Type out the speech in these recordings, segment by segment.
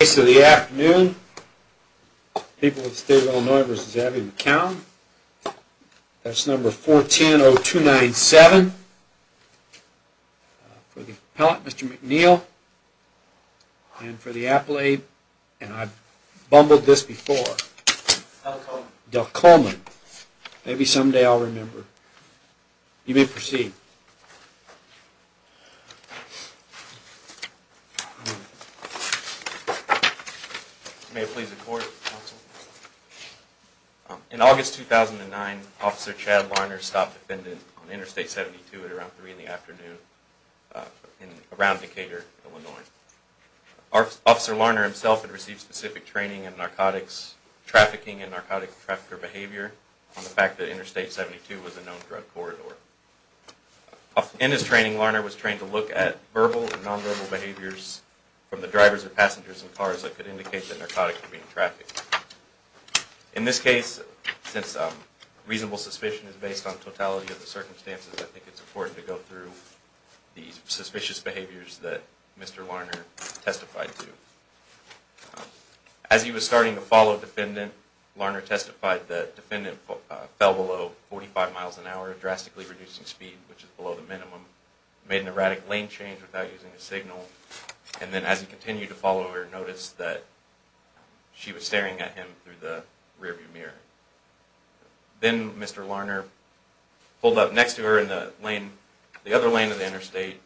The case of the afternoon, people of the state of Illinois v. Abby McQuown, that's number 410-0297. For the appellate, Mr. McNeil, and for the appellate, and I've bumbled this before, Del Coleman. Maybe some day I'll remember. You may proceed. May it please the court. In August 2009, Officer Chad Larner stopped a defendant on Interstate 72 at around 3 in the afternoon around Decatur, Illinois. Officer Larner himself had received specific training in narcotics trafficking and narcotic trafficker behavior on the fact that Interstate 72 was a known drug corridor. In his training, Larner was trained to look at verbal and nonverbal behaviors from the drivers of passengers and cars that could indicate that narcotics were being trafficked. In this case, since reasonable suspicion is based on totality of the circumstances, I think it's important to go through these suspicious behaviors that Mr. Larner testified to. As he was starting to follow the defendant, Larner testified that the defendant fell below 45 mph, drastically reducing speed, which is below the minimum, made an erratic lane change without using a signal, and then as he continued to follow her, noticed that she was staring at him through the rearview mirror. Then Mr. Larner pulled up next to her in the other lane of the interstate,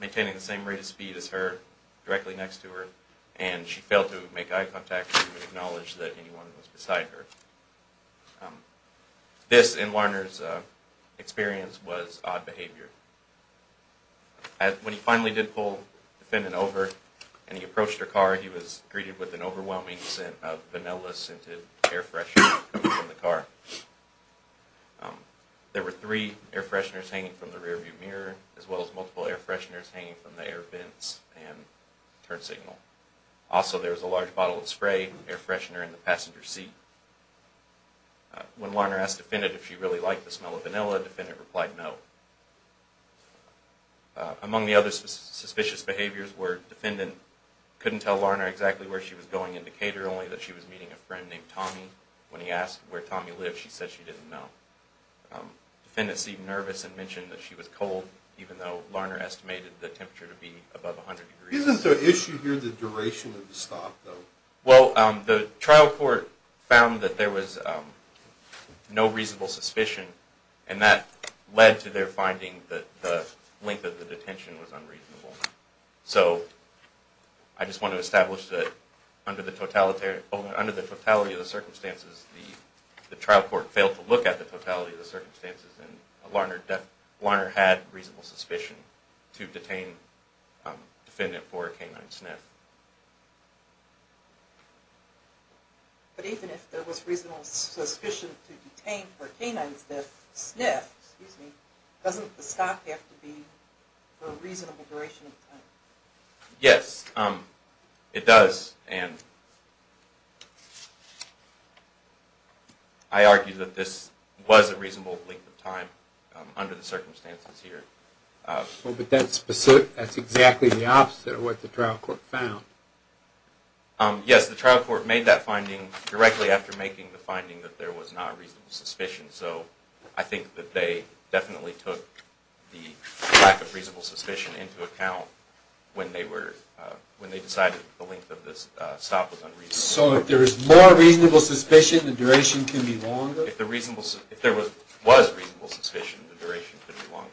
maintaining the same rate of speed as her, directly next to her, and she failed to make eye contact or acknowledge that anyone was beside her. This, in Larner's experience, was odd behavior. When he finally did pull the defendant over and he approached her car, he was greeted with an overwhelming scent of vanilla-scented air freshener coming from the car. There were three air fresheners hanging from the rearview mirror, as well as multiple air fresheners hanging from the air vents and turn signal. Also, there was a large bottle of spray, air freshener in the passenger seat. When Larner asked the defendant if she really liked the smell of vanilla, the defendant replied no. Among the other suspicious behaviors were, the defendant couldn't tell Larner exactly where she was going in Decatur, only that she was meeting a friend named Tommy. When he asked where Tommy lived, she said she didn't know. The defendant seemed nervous and mentioned that she was cold, even though Larner estimated the temperature to be above 100 degrees. Isn't the issue here the duration of the stop, though? Well, the trial court found that there was no reasonable suspicion, and that led to their finding that the length of the detention was unreasonable. So, I just want to establish that under the totality of the circumstances, the trial court failed to look at the totality of the circumstances, and that Larner had reasonable suspicion to detain the defendant for a canine sniff. But even if there was reasonable suspicion to detain for a canine sniff, doesn't the stop have to be for a reasonable duration of time? Yes, it does, and I argue that this was a reasonable length of time under the circumstances here. But that's exactly the opposite of what the trial court found. Yes, the trial court made that finding directly after making the finding that there was not reasonable suspicion, so I think that they definitely took the lack of reasonable suspicion into account when they decided the length of this stop was unreasonable. So, if there is more reasonable suspicion, the duration can be longer? If there was reasonable suspicion, the duration could be longer.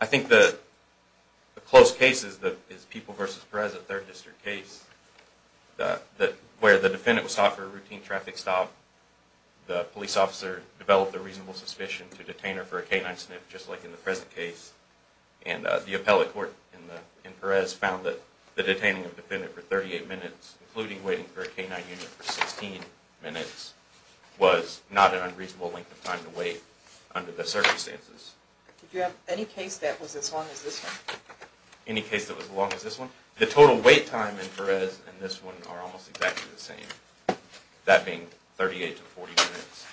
I think the close case is People v. Perez, a third district case, where the defendant was sought for a routine traffic stop. The police officer developed a reasonable suspicion to detain her for a canine sniff, just like in the present case. And the appellate court in Perez found that the detaining of the defendant for 38 minutes, including waiting for a canine unit for 16 minutes, was not an unreasonable length of time to wait under the circumstances. Did you have any case that was as long as this one? Any case that was as long as this one? The total wait time in Perez and this one are almost exactly the same, that being 38 to 40 minutes.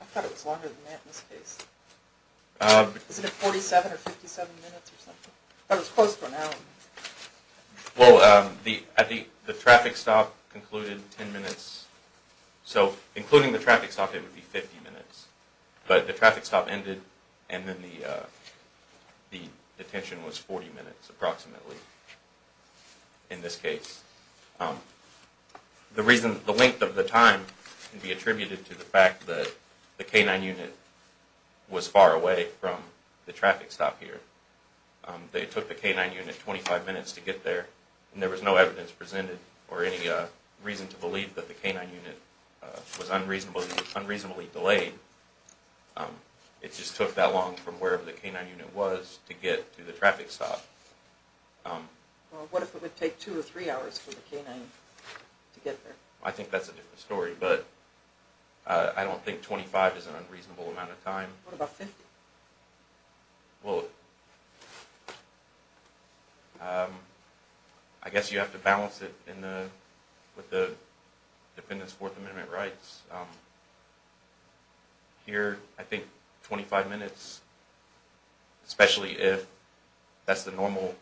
I thought it was longer than that in this case. Is it 47 or 57 minutes or something? I thought it was close to an hour. Well, the traffic stop concluded 10 minutes. So, including the traffic stop, it would be 50 minutes. But the traffic stop ended, and then the detention was 40 minutes, approximately, in this case. The length of the time can be attributed to the fact that the canine unit was far away from the traffic stop here. They took the canine unit 25 minutes to get there, and there was no evidence presented or any reason to believe that the canine unit was unreasonably delayed. It just took that long from wherever the canine unit was to get to the traffic stop. Well, what if it would take two or three hours for the canine to get there? I think that's a different story, but I don't think 25 is an unreasonable amount of time. What about 50? Well, I guess you have to balance it with the defendant's Fourth Amendment rights. Here, I think 25 minutes, especially if that's the normal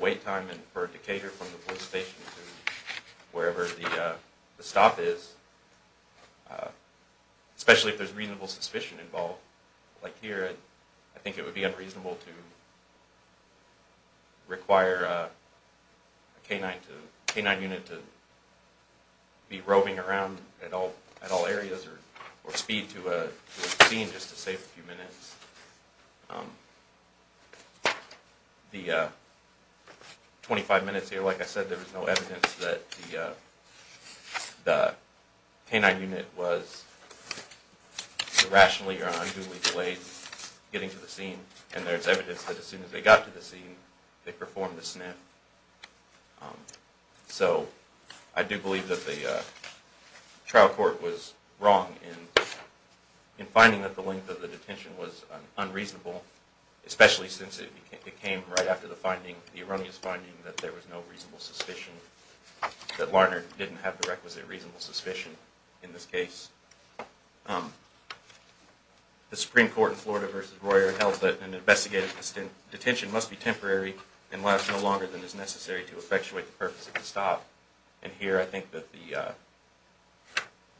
wait time for a decatur from the police station to wherever the stop is, especially if there's reasonable suspicion involved. Like here, I think it would be unreasonable to require a canine unit to be roving around at all areas or speed to a scene just to save a few minutes. The 25 minutes here, like I said, there was no evidence that the canine unit was irrationally or unduly delayed getting to the scene, and there's evidence that as soon as they got to the scene, they performed a snip. So, I do believe that the trial court was wrong in finding that the length of the detention was unreasonable, especially since it came right after the finding, the erroneous finding that there was no reasonable suspicion, that Larner didn't have the requisite reasonable suspicion in this case. The Supreme Court in Florida v. Royer held that an investigative detention must be temporary and lasts no longer than is necessary to effectuate the purpose of the stop. And here, I think that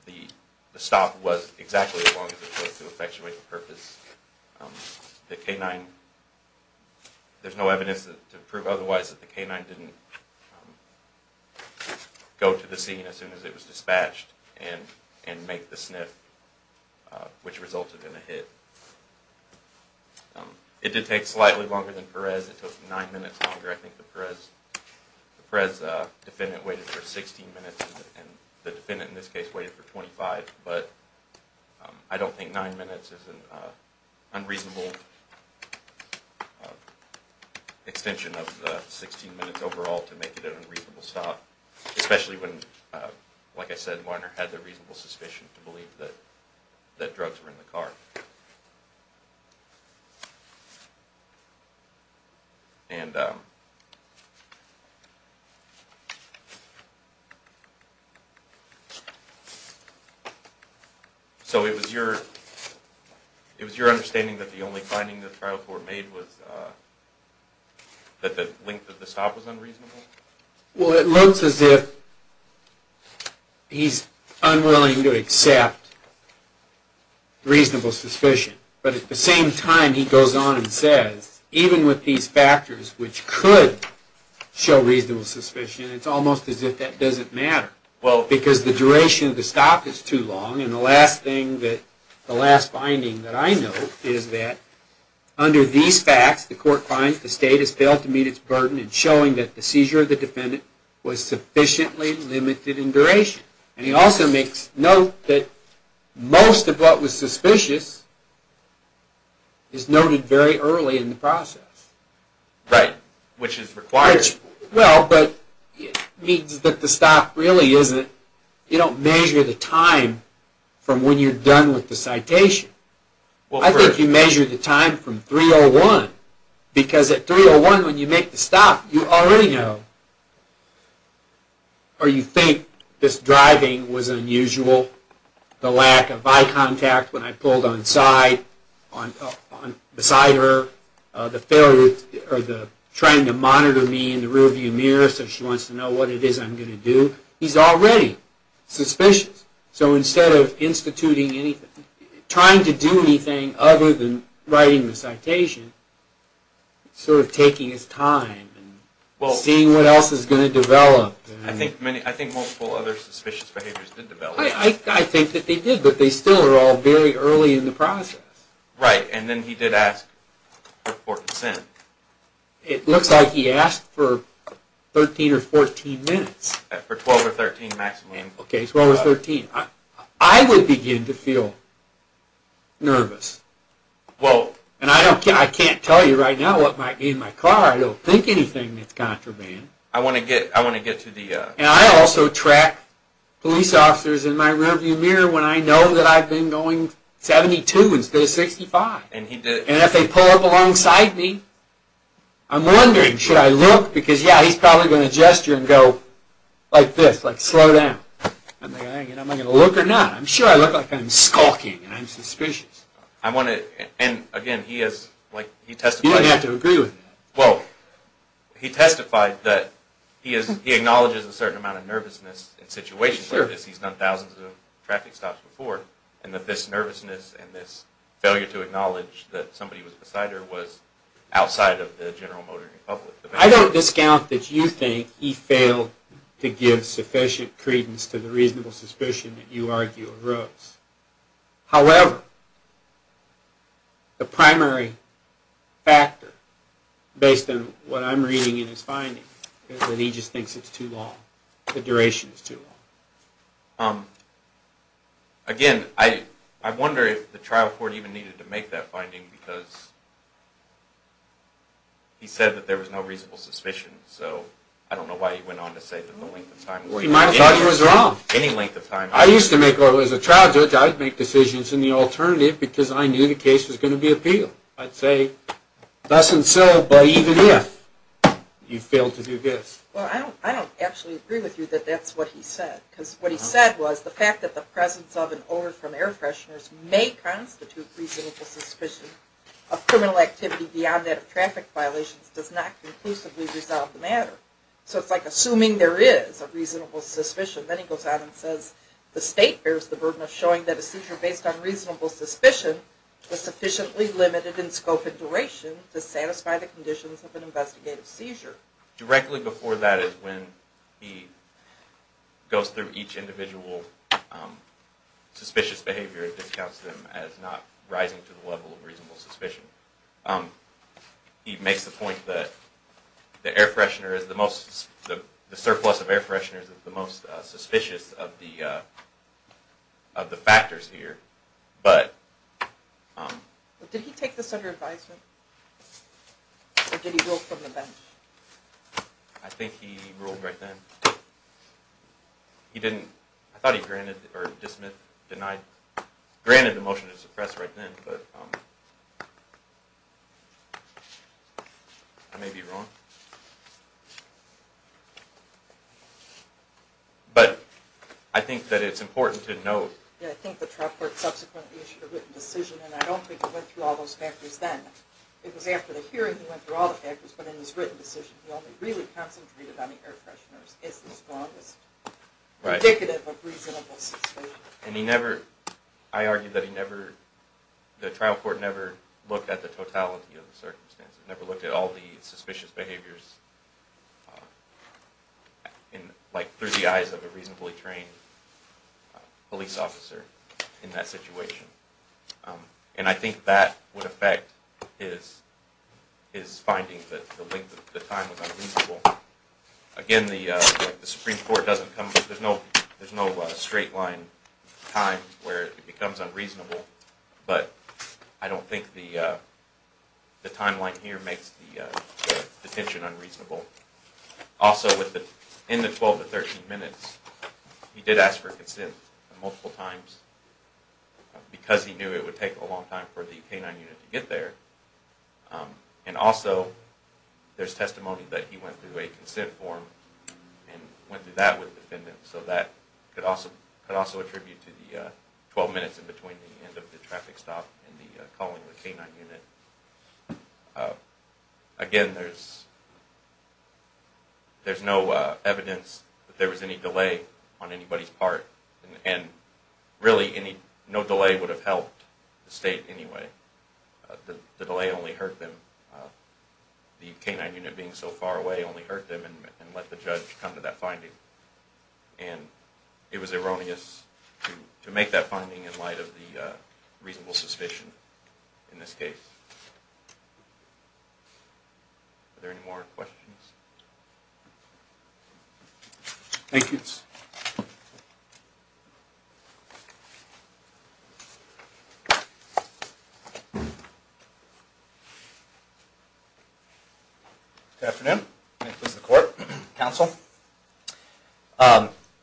the stop was exactly as long as it took to effectuate the purpose. The canine, there's no evidence to prove otherwise that the canine didn't go to the scene as soon as it was dispatched and make the snip, which resulted in a hit. It did take slightly longer than Perez. It took 9 minutes longer. I think the Perez defendant waited for 16 minutes and the defendant in this case waited for 25, but I don't think 9 minutes is an unreasonable extension of the 16 minutes overall to make it an unreasonable stop, especially when, like I said, Larner had the reasonable suspicion to believe that drugs were in the car. So it was your understanding that the only finding that the trial court made was that the length of the stop was unreasonable? Well, it looks as if he's unwilling to accept reasonable suspicion. But at the same time, he goes on and says, even with these factors which could show reasonable suspicion, it's almost as if that doesn't matter. Well, because the duration of the stop is too long, and the last thing, the last finding that I know is that under these facts, the court finds the state has failed to meet its burden in showing that the seizure of the defendant was sufficiently limited in duration. And he also makes note that most of what was suspicious is noted very early in the process. Right, which is required. Well, but it means that the stop really isn't, you don't measure the time from when you're done with the citation. I think you measure the time from 3-0-1, because at 3-0-1 when you make the stop, you already know, or you think this driving was unusual, the lack of eye contact when I pulled on side, beside her, the failure, or the trying to monitor me in the rearview mirror so she wants to know what it is I'm going to do. He's already suspicious. So instead of instituting anything, trying to do anything other than writing the citation, sort of taking his time and seeing what else is going to develop. I think multiple other suspicious behaviors did develop. I think that they did, but they still are all very early in the process. Right, and then he did ask for consent. It looks like he asked for 13 or 14 minutes. For 12 or 13 maximum. I would begin to feel nervous. And I can't tell you right now what might be in my car. I don't think anything that's contraband. And I also track police officers in my rearview mirror when I know that I've been going 72 instead of 65. And if they pull up alongside me, I'm wondering, should I look? Because yeah, he's probably going to gesture and go like this, like slow down. Am I going to look or not? I'm sure I look like I'm skulking and I'm suspicious. And again, he testified that he acknowledges a certain amount of nervousness in situations like this. He's done thousands of traffic stops before. And that this nervousness and this failure to acknowledge that somebody was beside her was outside of the general motor public. I don't discount that you think he failed to give sufficient credence to the reasonable suspicion that you argue arose. However, the primary factor, based on what I'm reading in his findings, is that he just thinks it's too long. The duration is too long. Again, I wonder if the trial court even needed to make that finding because he said that there was no reasonable suspicion. So I don't know why he went on to say that the length of time was too long. He might have thought he was wrong. Any length of time. I used to make, as a trial judge, I'd make decisions in the alternative because I knew the case was going to be appealed. I'd say thus and so, but even if you failed to do this. Well, I don't actually agree with you that that's what he said. Because what he said was the fact that the presence of and or from air fresheners may constitute reasonable suspicion of criminal activity beyond that of traffic violations does not conclusively resolve the matter. So it's like assuming there is a reasonable suspicion. Then he goes on and says the state bears the burden of showing that a seizure based on reasonable suspicion was sufficiently limited in scope and duration to satisfy the conditions of an investigative seizure. Directly before that is when he goes through each individual suspicious behavior and discounts them as not rising to the level of reasonable suspicion. He makes the point that the surplus of air fresheners is the most suspicious of the factors here. Did he take this under advisement? Or did he rule from the bench? I think he ruled right then. He didn't, I thought he granted, or dismissed, denied, granted the motion to suppress right then. But I may be wrong. But I think that it's important to note. I think the trial court subsequently issued a written decision and I don't think he went through all those factors then. It was after the hearing he went through all the factors but in his written decision he only really concentrated on the air fresheners as the strongest indicative of reasonable suspicion. I argue that the trial court never looked at the totality of the circumstances. It never looked at all the suspicious behaviors through the eyes of a reasonably trained police officer in that situation. And I think that would affect his finding that the length of the time was unreasonable. Again, the Supreme Court doesn't come, there's no straight line time where it becomes unreasonable. But I don't think the timeline here makes the detention unreasonable. Also, in the 12 to 13 minutes, he did ask for consent multiple times because he knew it would take a long time for the K-9 unit to get there. And also, there's testimony that he went through a consent form and went through that with defendants. So that could also attribute to the 12 minutes in between the end of the traffic stop and the calling of the K-9 unit. Again, there's no evidence that there was any delay on anybody's part. And really, no delay would have helped the state anyway. The delay only hurt them. The K-9 unit being so far away only hurt them and let the judge come to that finding. And it was erroneous to make that finding in light of the reasonable suspicion in this case. Are there any more questions? Thank you. Good afternoon. Nick with the court, counsel.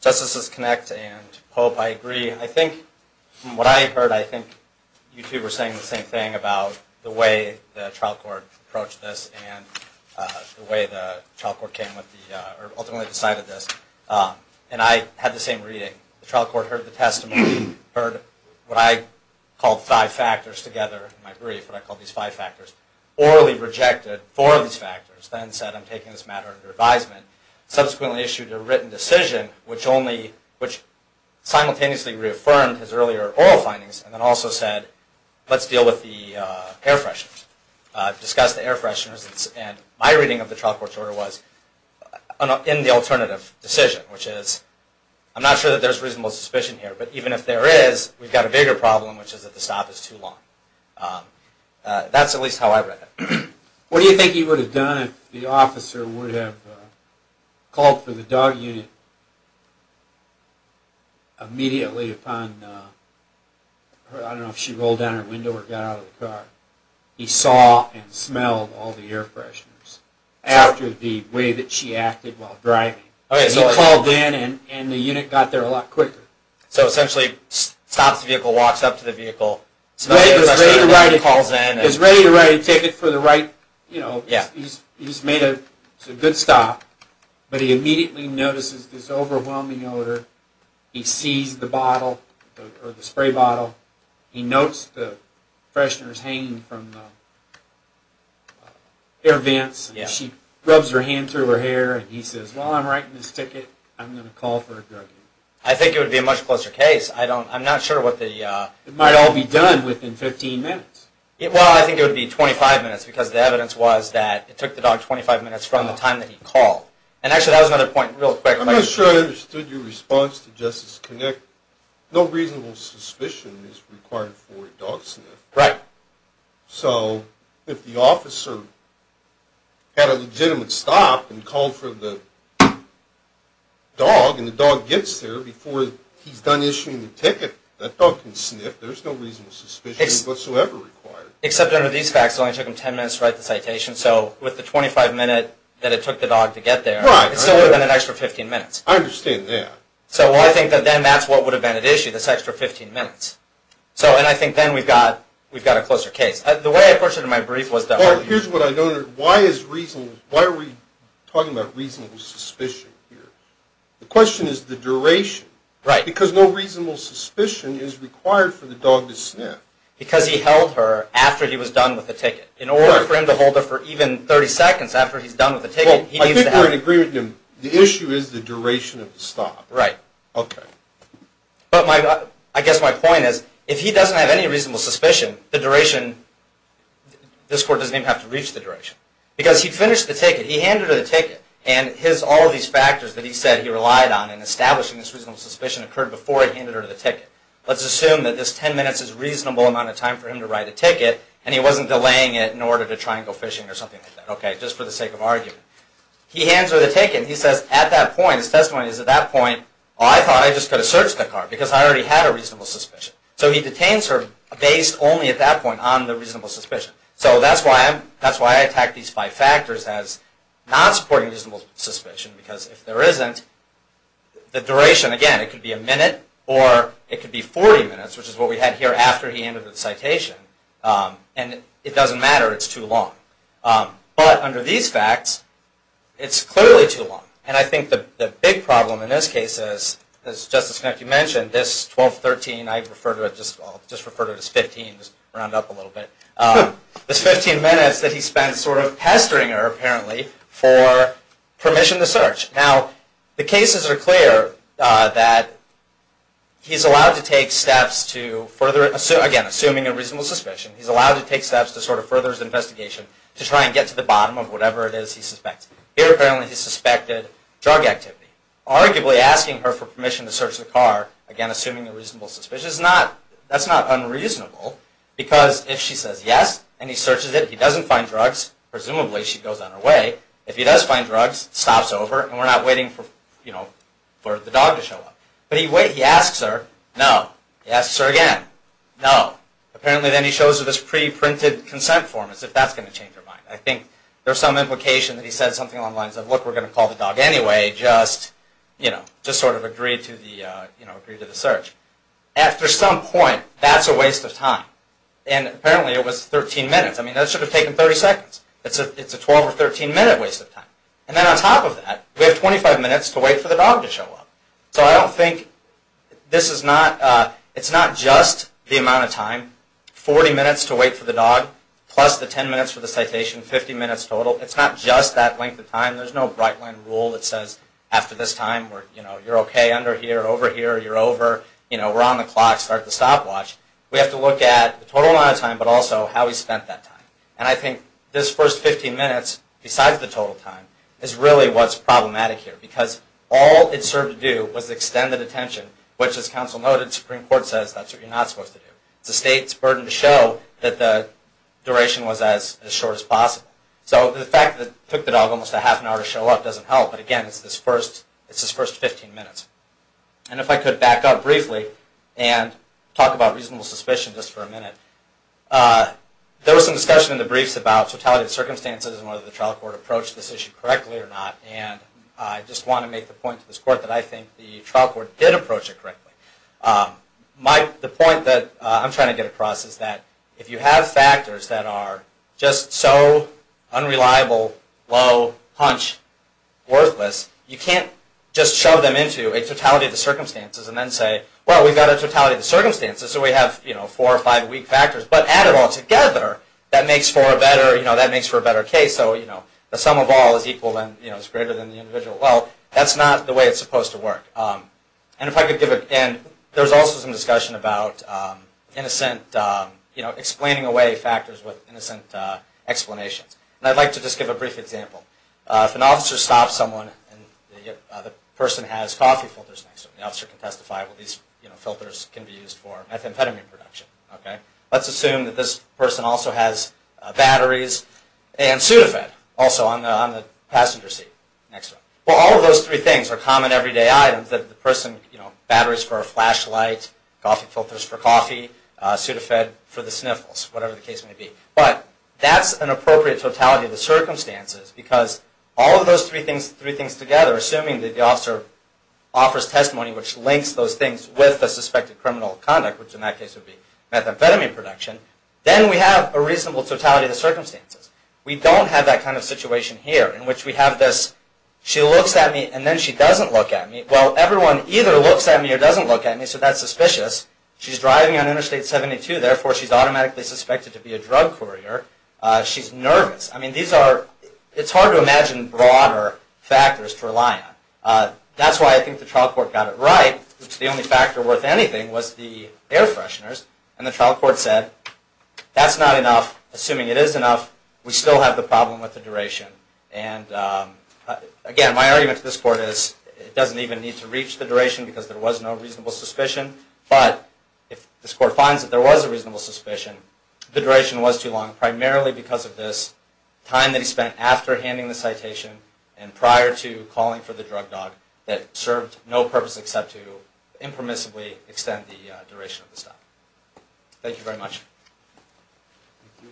Justices Kinect and Pope, I agree. From what I heard, I think you two were saying the same thing about the way the trial court approached this and the way the trial court ultimately decided this. And I had the same reading. The trial court heard the testimony, heard what I called five factors together in my brief, what I call these five factors, orally rejected four of these factors, then said, I'm taking this matter under advisement, subsequently issued a written decision, which only, which simultaneously reaffirmed his earlier oral findings, and then also said, let's deal with the air fresheners, discuss the air fresheners. And my reading of the trial court's order was, in the alternative decision, which is, I'm not sure that there's reasonable suspicion here, but even if there is, we've got a bigger problem, which is that the stop is too long. That's at least how I read it. What do you think he would have done if the officer would have called for the dog unit immediately upon, I don't know if she rolled down her window or got out of the car. He saw and smelled all the air fresheners after the way that she acted while driving. He called in and the unit got there a lot quicker. So essentially, stops the vehicle, walks up to the vehicle, calls in. He's ready to write a ticket for the right, you know, he's made a good stop, but he immediately notices this overwhelming odor. He sees the bottle, or the spray bottle. He notes the fresheners hanging from the air vents. She rubs her hand through her hair and he says, while I'm writing this ticket, I'm going to call for a drug unit. I think it would be a much closer case. I don't, I'm not sure what the... It might all be done within 15 minutes. Well, I think it would be 25 minutes because the evidence was that it took the dog 25 minutes from the time that he called. And actually, that was another point real quick. I'm not sure I understood your response to Justice Connick. No reasonable suspicion is required for a dog sniff. Right. So if the officer had a legitimate stop and called for the dog, and the dog gets there before he's done issuing the ticket, that dog can sniff. There's no reasonable suspicion whatsoever required. Except under these facts, it only took him 10 minutes to write the citation. So with the 25 minute that it took the dog to get there, it's still within an extra 15 minutes. I understand that. So I think that then that's what would have been at issue, this extra 15 minutes. So, and I think then we've got a closer case. The way I approached it in my brief was that... Well, here's what I don't understand. Why are we talking about reasonable suspicion here? The question is the duration. Right. Because no reasonable suspicion is required for the dog to sniff. Because he held her after he was done with the ticket. In order for him to hold her for even 30 seconds after he's done with the ticket, he needs to have... Well, I think we're in agreement. The issue is the duration of the stop. Right. Okay. But I guess my point is, if he doesn't have any reasonable suspicion, the duration, this court doesn't even have to reach the duration. Because he finished the ticket, he handed her the ticket, and all of these factors that he said he relied on in establishing this reasonable suspicion occurred before he handed her the ticket. Let's assume that this 10 minutes is a reasonable amount of time for him to write a ticket, and he wasn't delaying it in order to try and go fishing or something like that. Okay. Just for the sake of argument. He hands her the ticket and he says at that point, his testimony is at that point, I thought I just could have searched the car because I already had a reasonable suspicion. So he detains her based only at that point on the reasonable suspicion. So that's why I attack these five factors as not supporting reasonable suspicion. Because if there isn't, the duration, again, it could be a minute or it could be 40 minutes, which is what we had here after he handed the citation. And it doesn't matter. It's too long. But under these facts, it's clearly too long. And I think the big problem in this case is, as Justice Klinecki mentioned, this 12-13, I refer to it, I'll just refer to it as 15, just round up a little bit. This 15 minutes that he spent sort of pestering her, apparently, for permission to search. Now, the cases are clear that he's allowed to take steps to further, again, assuming a reasonable suspicion, he's allowed to take steps to sort of further his investigation to try and get to the bottom of whatever it is he suspects. Here, apparently, he suspected drug activity. Arguably, asking her for permission to search the car, again, assuming a reasonable suspicion, that's not unreasonable. Because if she says yes, and he searches it, he doesn't find drugs, presumably she goes on her way. If he does find drugs, stops over, and we're not waiting for the dog to show up. But he asks her, no. He asks her again, no. Apparently, then he shows her this pre-printed consent form, as if that's going to change her mind. I think there's some implication that he said something along the lines of, look, we're going to call the dog anyway, just sort of agreed to the search. After some point, that's a waste of time. And apparently, it was 13 minutes. I mean, that should have taken 30 seconds. It's a 12 or 13 minute waste of time. And then on top of that, we have 25 minutes to wait for the dog to show up. So I don't think this is not, it's not just the amount of time, 40 minutes to wait for the dog, plus the 10 minutes for the citation, 50 minutes total. It's not just that length of time. There's no Breitland rule that says, after this time, you're okay under here, over here, you're over. We're on the clock, start the stopwatch. We have to look at the total amount of time, but also how he spent that time. And I think this first 15 minutes, besides the total time, is really what's problematic here. Because all it served to do was extend the detention, which, as counsel noted, the Supreme Court says that's what you're not supposed to do. It's the state's burden to show that the duration was as short as possible. So the fact that it took the dog almost a half an hour to show up doesn't help. But again, it's his first 15 minutes. And if I could back up briefly and talk about reasonable suspicion just for a minute. There was some discussion in the briefs about totality of circumstances and whether the trial court approached this issue correctly or not. And I just want to make the point to this Court that I think the trial court did approach it correctly. The point that I'm trying to get across is that if you have factors that are just so unreliable, low, hunch, worthless, you can't just shove them into a totality of the circumstances and then say, well, we've got a totality of the circumstances, so we have four or five weak factors. But add it all together, that makes for a better case. So the sum of all is greater than the individual. Well, that's not the way it's supposed to work. And there was also some discussion about explaining away factors with innocent explanations. And I'd like to just give a brief example. If an officer stops someone and the person has coffee filters next to them, the officer can testify, well, these filters can be used for methamphetamine production. Let's assume that this person also has batteries and Sudafed also on the passenger seat. Well, all of those three things are common everyday items that the person, you know, batteries for a flashlight, coffee filters for coffee, Sudafed for the sniffles, whatever the case may be. But that's an appropriate totality of the circumstances because all of those three things together, assuming that the officer offers testimony which links those things with the suspected criminal conduct, which in that case would be methamphetamine production, then we have a reasonable totality of the circumstances. We don't have that kind of situation here in which we have this, she looks at me and then she doesn't look at me. Well, everyone either looks at me or doesn't look at me, so that's suspicious. She's driving on Interstate 72, therefore she's automatically suspected to be a drug courier. She's nervous. I mean, these are, it's hard to imagine broader factors to rely on. That's why I think the trial court got it right, which the only factor worth anything was the air fresheners. And the trial court said, that's not enough. Assuming it is enough, we still have the problem with the duration. And again, my argument to this court is it doesn't even need to reach the duration because there was no reasonable suspicion. But if this court finds that there was a reasonable suspicion, the duration was too long, primarily because of this time that he spent after handing the citation and prior to calling for the drug dog that served no purpose except to impermissibly extend the duration of the stop. Thank you very much. Thank you.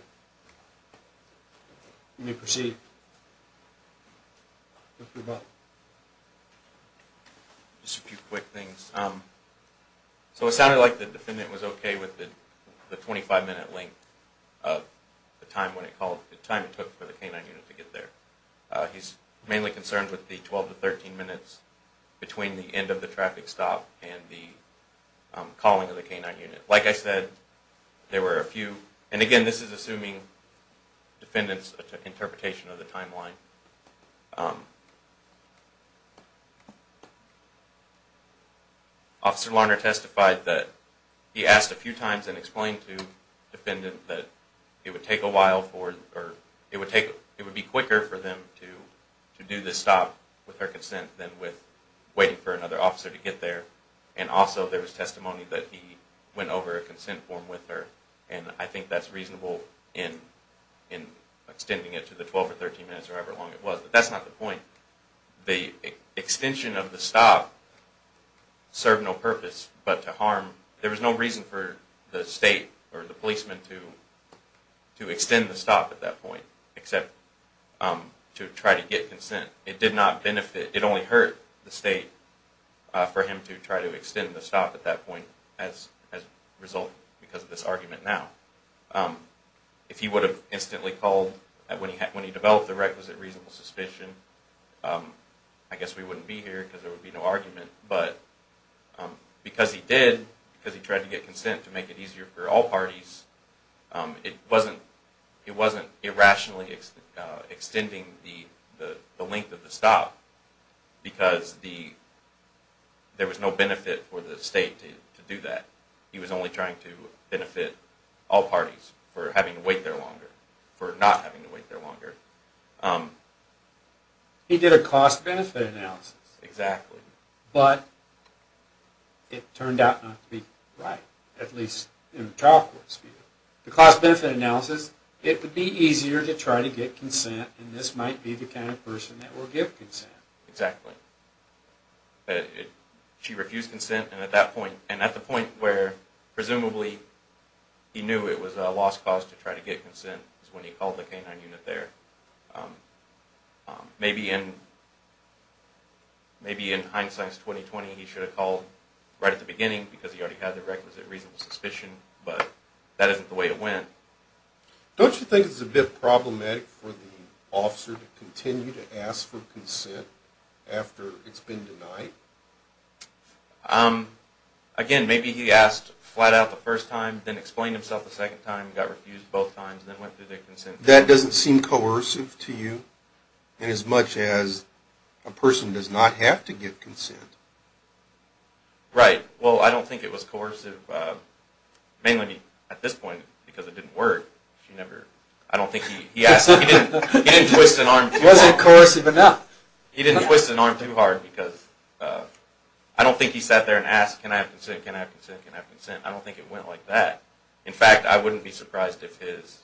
You may proceed. Just a few quick things. So it sounded like the defendant was okay with the 25-minute length of the time when it called, the time it took for the canine unit to get there. He's mainly concerned with the 12 to 13 minutes between the end of the traffic stop and the calling of the canine unit. Like I said, there were a few, and again, this is assuming the defendant's interpretation of the timeline. Officer Larner testified that he asked a few times and explained to the defendant that it would take a while for, or it would be quicker for them to do the stop with their consent than with waiting for another officer to get there. And also there was testimony that he went over a consent form with her, and I think that's reasonable in extending it to the 12 or 13 minutes or however long it was. But that's not the point. The extension of the stop served no purpose but to harm, there was no reason for the state or the policeman to extend the stop at that point except to try to get consent. It did not benefit, it only hurt the state for him to try to extend the stop at that point as a result because of this argument now. If he would have instantly called when he developed the requisite reasonable suspicion, I guess we wouldn't be here because there would be no argument. But because he did, because he tried to get consent to make it easier for all parties, it wasn't irrationally extending the length of the stop because there was no benefit for the state to do that. He was only trying to benefit all parties for having to wait there longer, for not having to wait there longer. He did a cost-benefit analysis. Exactly. But it turned out not to be right, at least in the trial court's view. The cost-benefit analysis, it would be easier to try to get consent and this might be the kind of person that will give consent. Exactly. She refused consent and at that point, and at the point where presumably he knew it was a lost cause to try to get consent is when he called the canine unit there. Maybe in hindsight's 20-20 he should have called right at the beginning because he already had the requisite reasonable suspicion, but that isn't the way it went. Don't you think it's a bit problematic for the officer to continue to ask for consent after it's been denied? Again, maybe he asked flat out the first time, then explained himself a second time, got refused both times, then went through their consent. That doesn't seem coercive to you inasmuch as a person does not have to give consent. Right. Well, I don't think it was coercive, mainly at this point because it didn't work. I don't think he asked. He didn't twist an arm too hard. It wasn't coercive enough. He didn't twist an arm too hard because I don't think he sat there and asked, can I have consent, can I have consent, can I have consent? I don't think it went like that. In fact, I wouldn't be surprised if his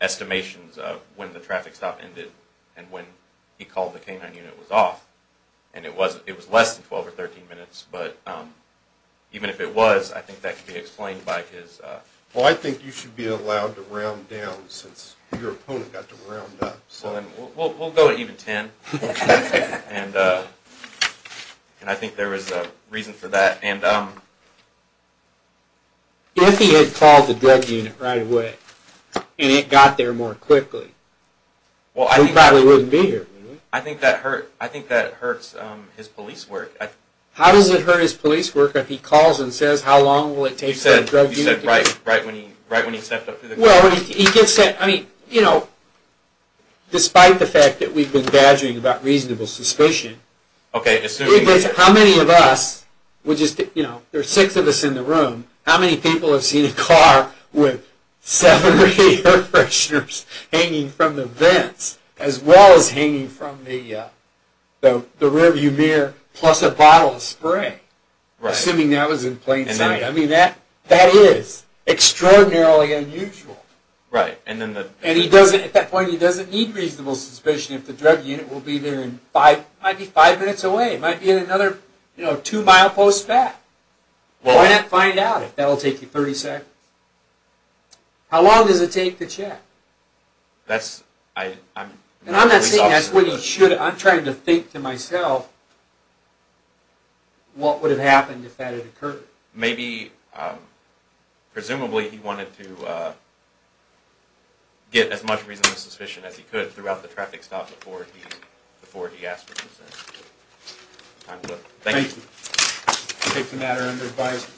estimations of when the traffic stop ended and when he called the canine unit was off. It was less than 12 or 13 minutes, but even if it was, I think that could be explained by his... Well, I think you should be allowed to round down since your opponent got to round up. We'll go at even 10, and I think there is a reason for that. If he had called the drug unit right away and it got there more quickly, he probably wouldn't be here. I think that hurts his police work. How does it hurt his police work if he calls and says how long will it take for the drug unit to get here? You said right when he stepped up to the car. Despite the fact that we've been badgering about reasonable suspicion, how many of us, there are six of us in the room, how many people have seen a car with seven or eight air fresheners hanging from the vents as well as hanging from the rear view mirror plus a bottle of spray? Assuming that was in plain sight. I mean, that is extraordinarily unusual. Right. At that point, he doesn't need reasonable suspicion if the drug unit will be there five minutes away. It might be another two-mile post-fat. Why not find out if that will take you 30 seconds? How long does it take to check? I'm not saying that's when you should... Maybe, presumably, he wanted to get as much reasonable suspicion as he could throughout the traffic stop before he asked for consent. Thank you. Thank you. Take the matter under advice.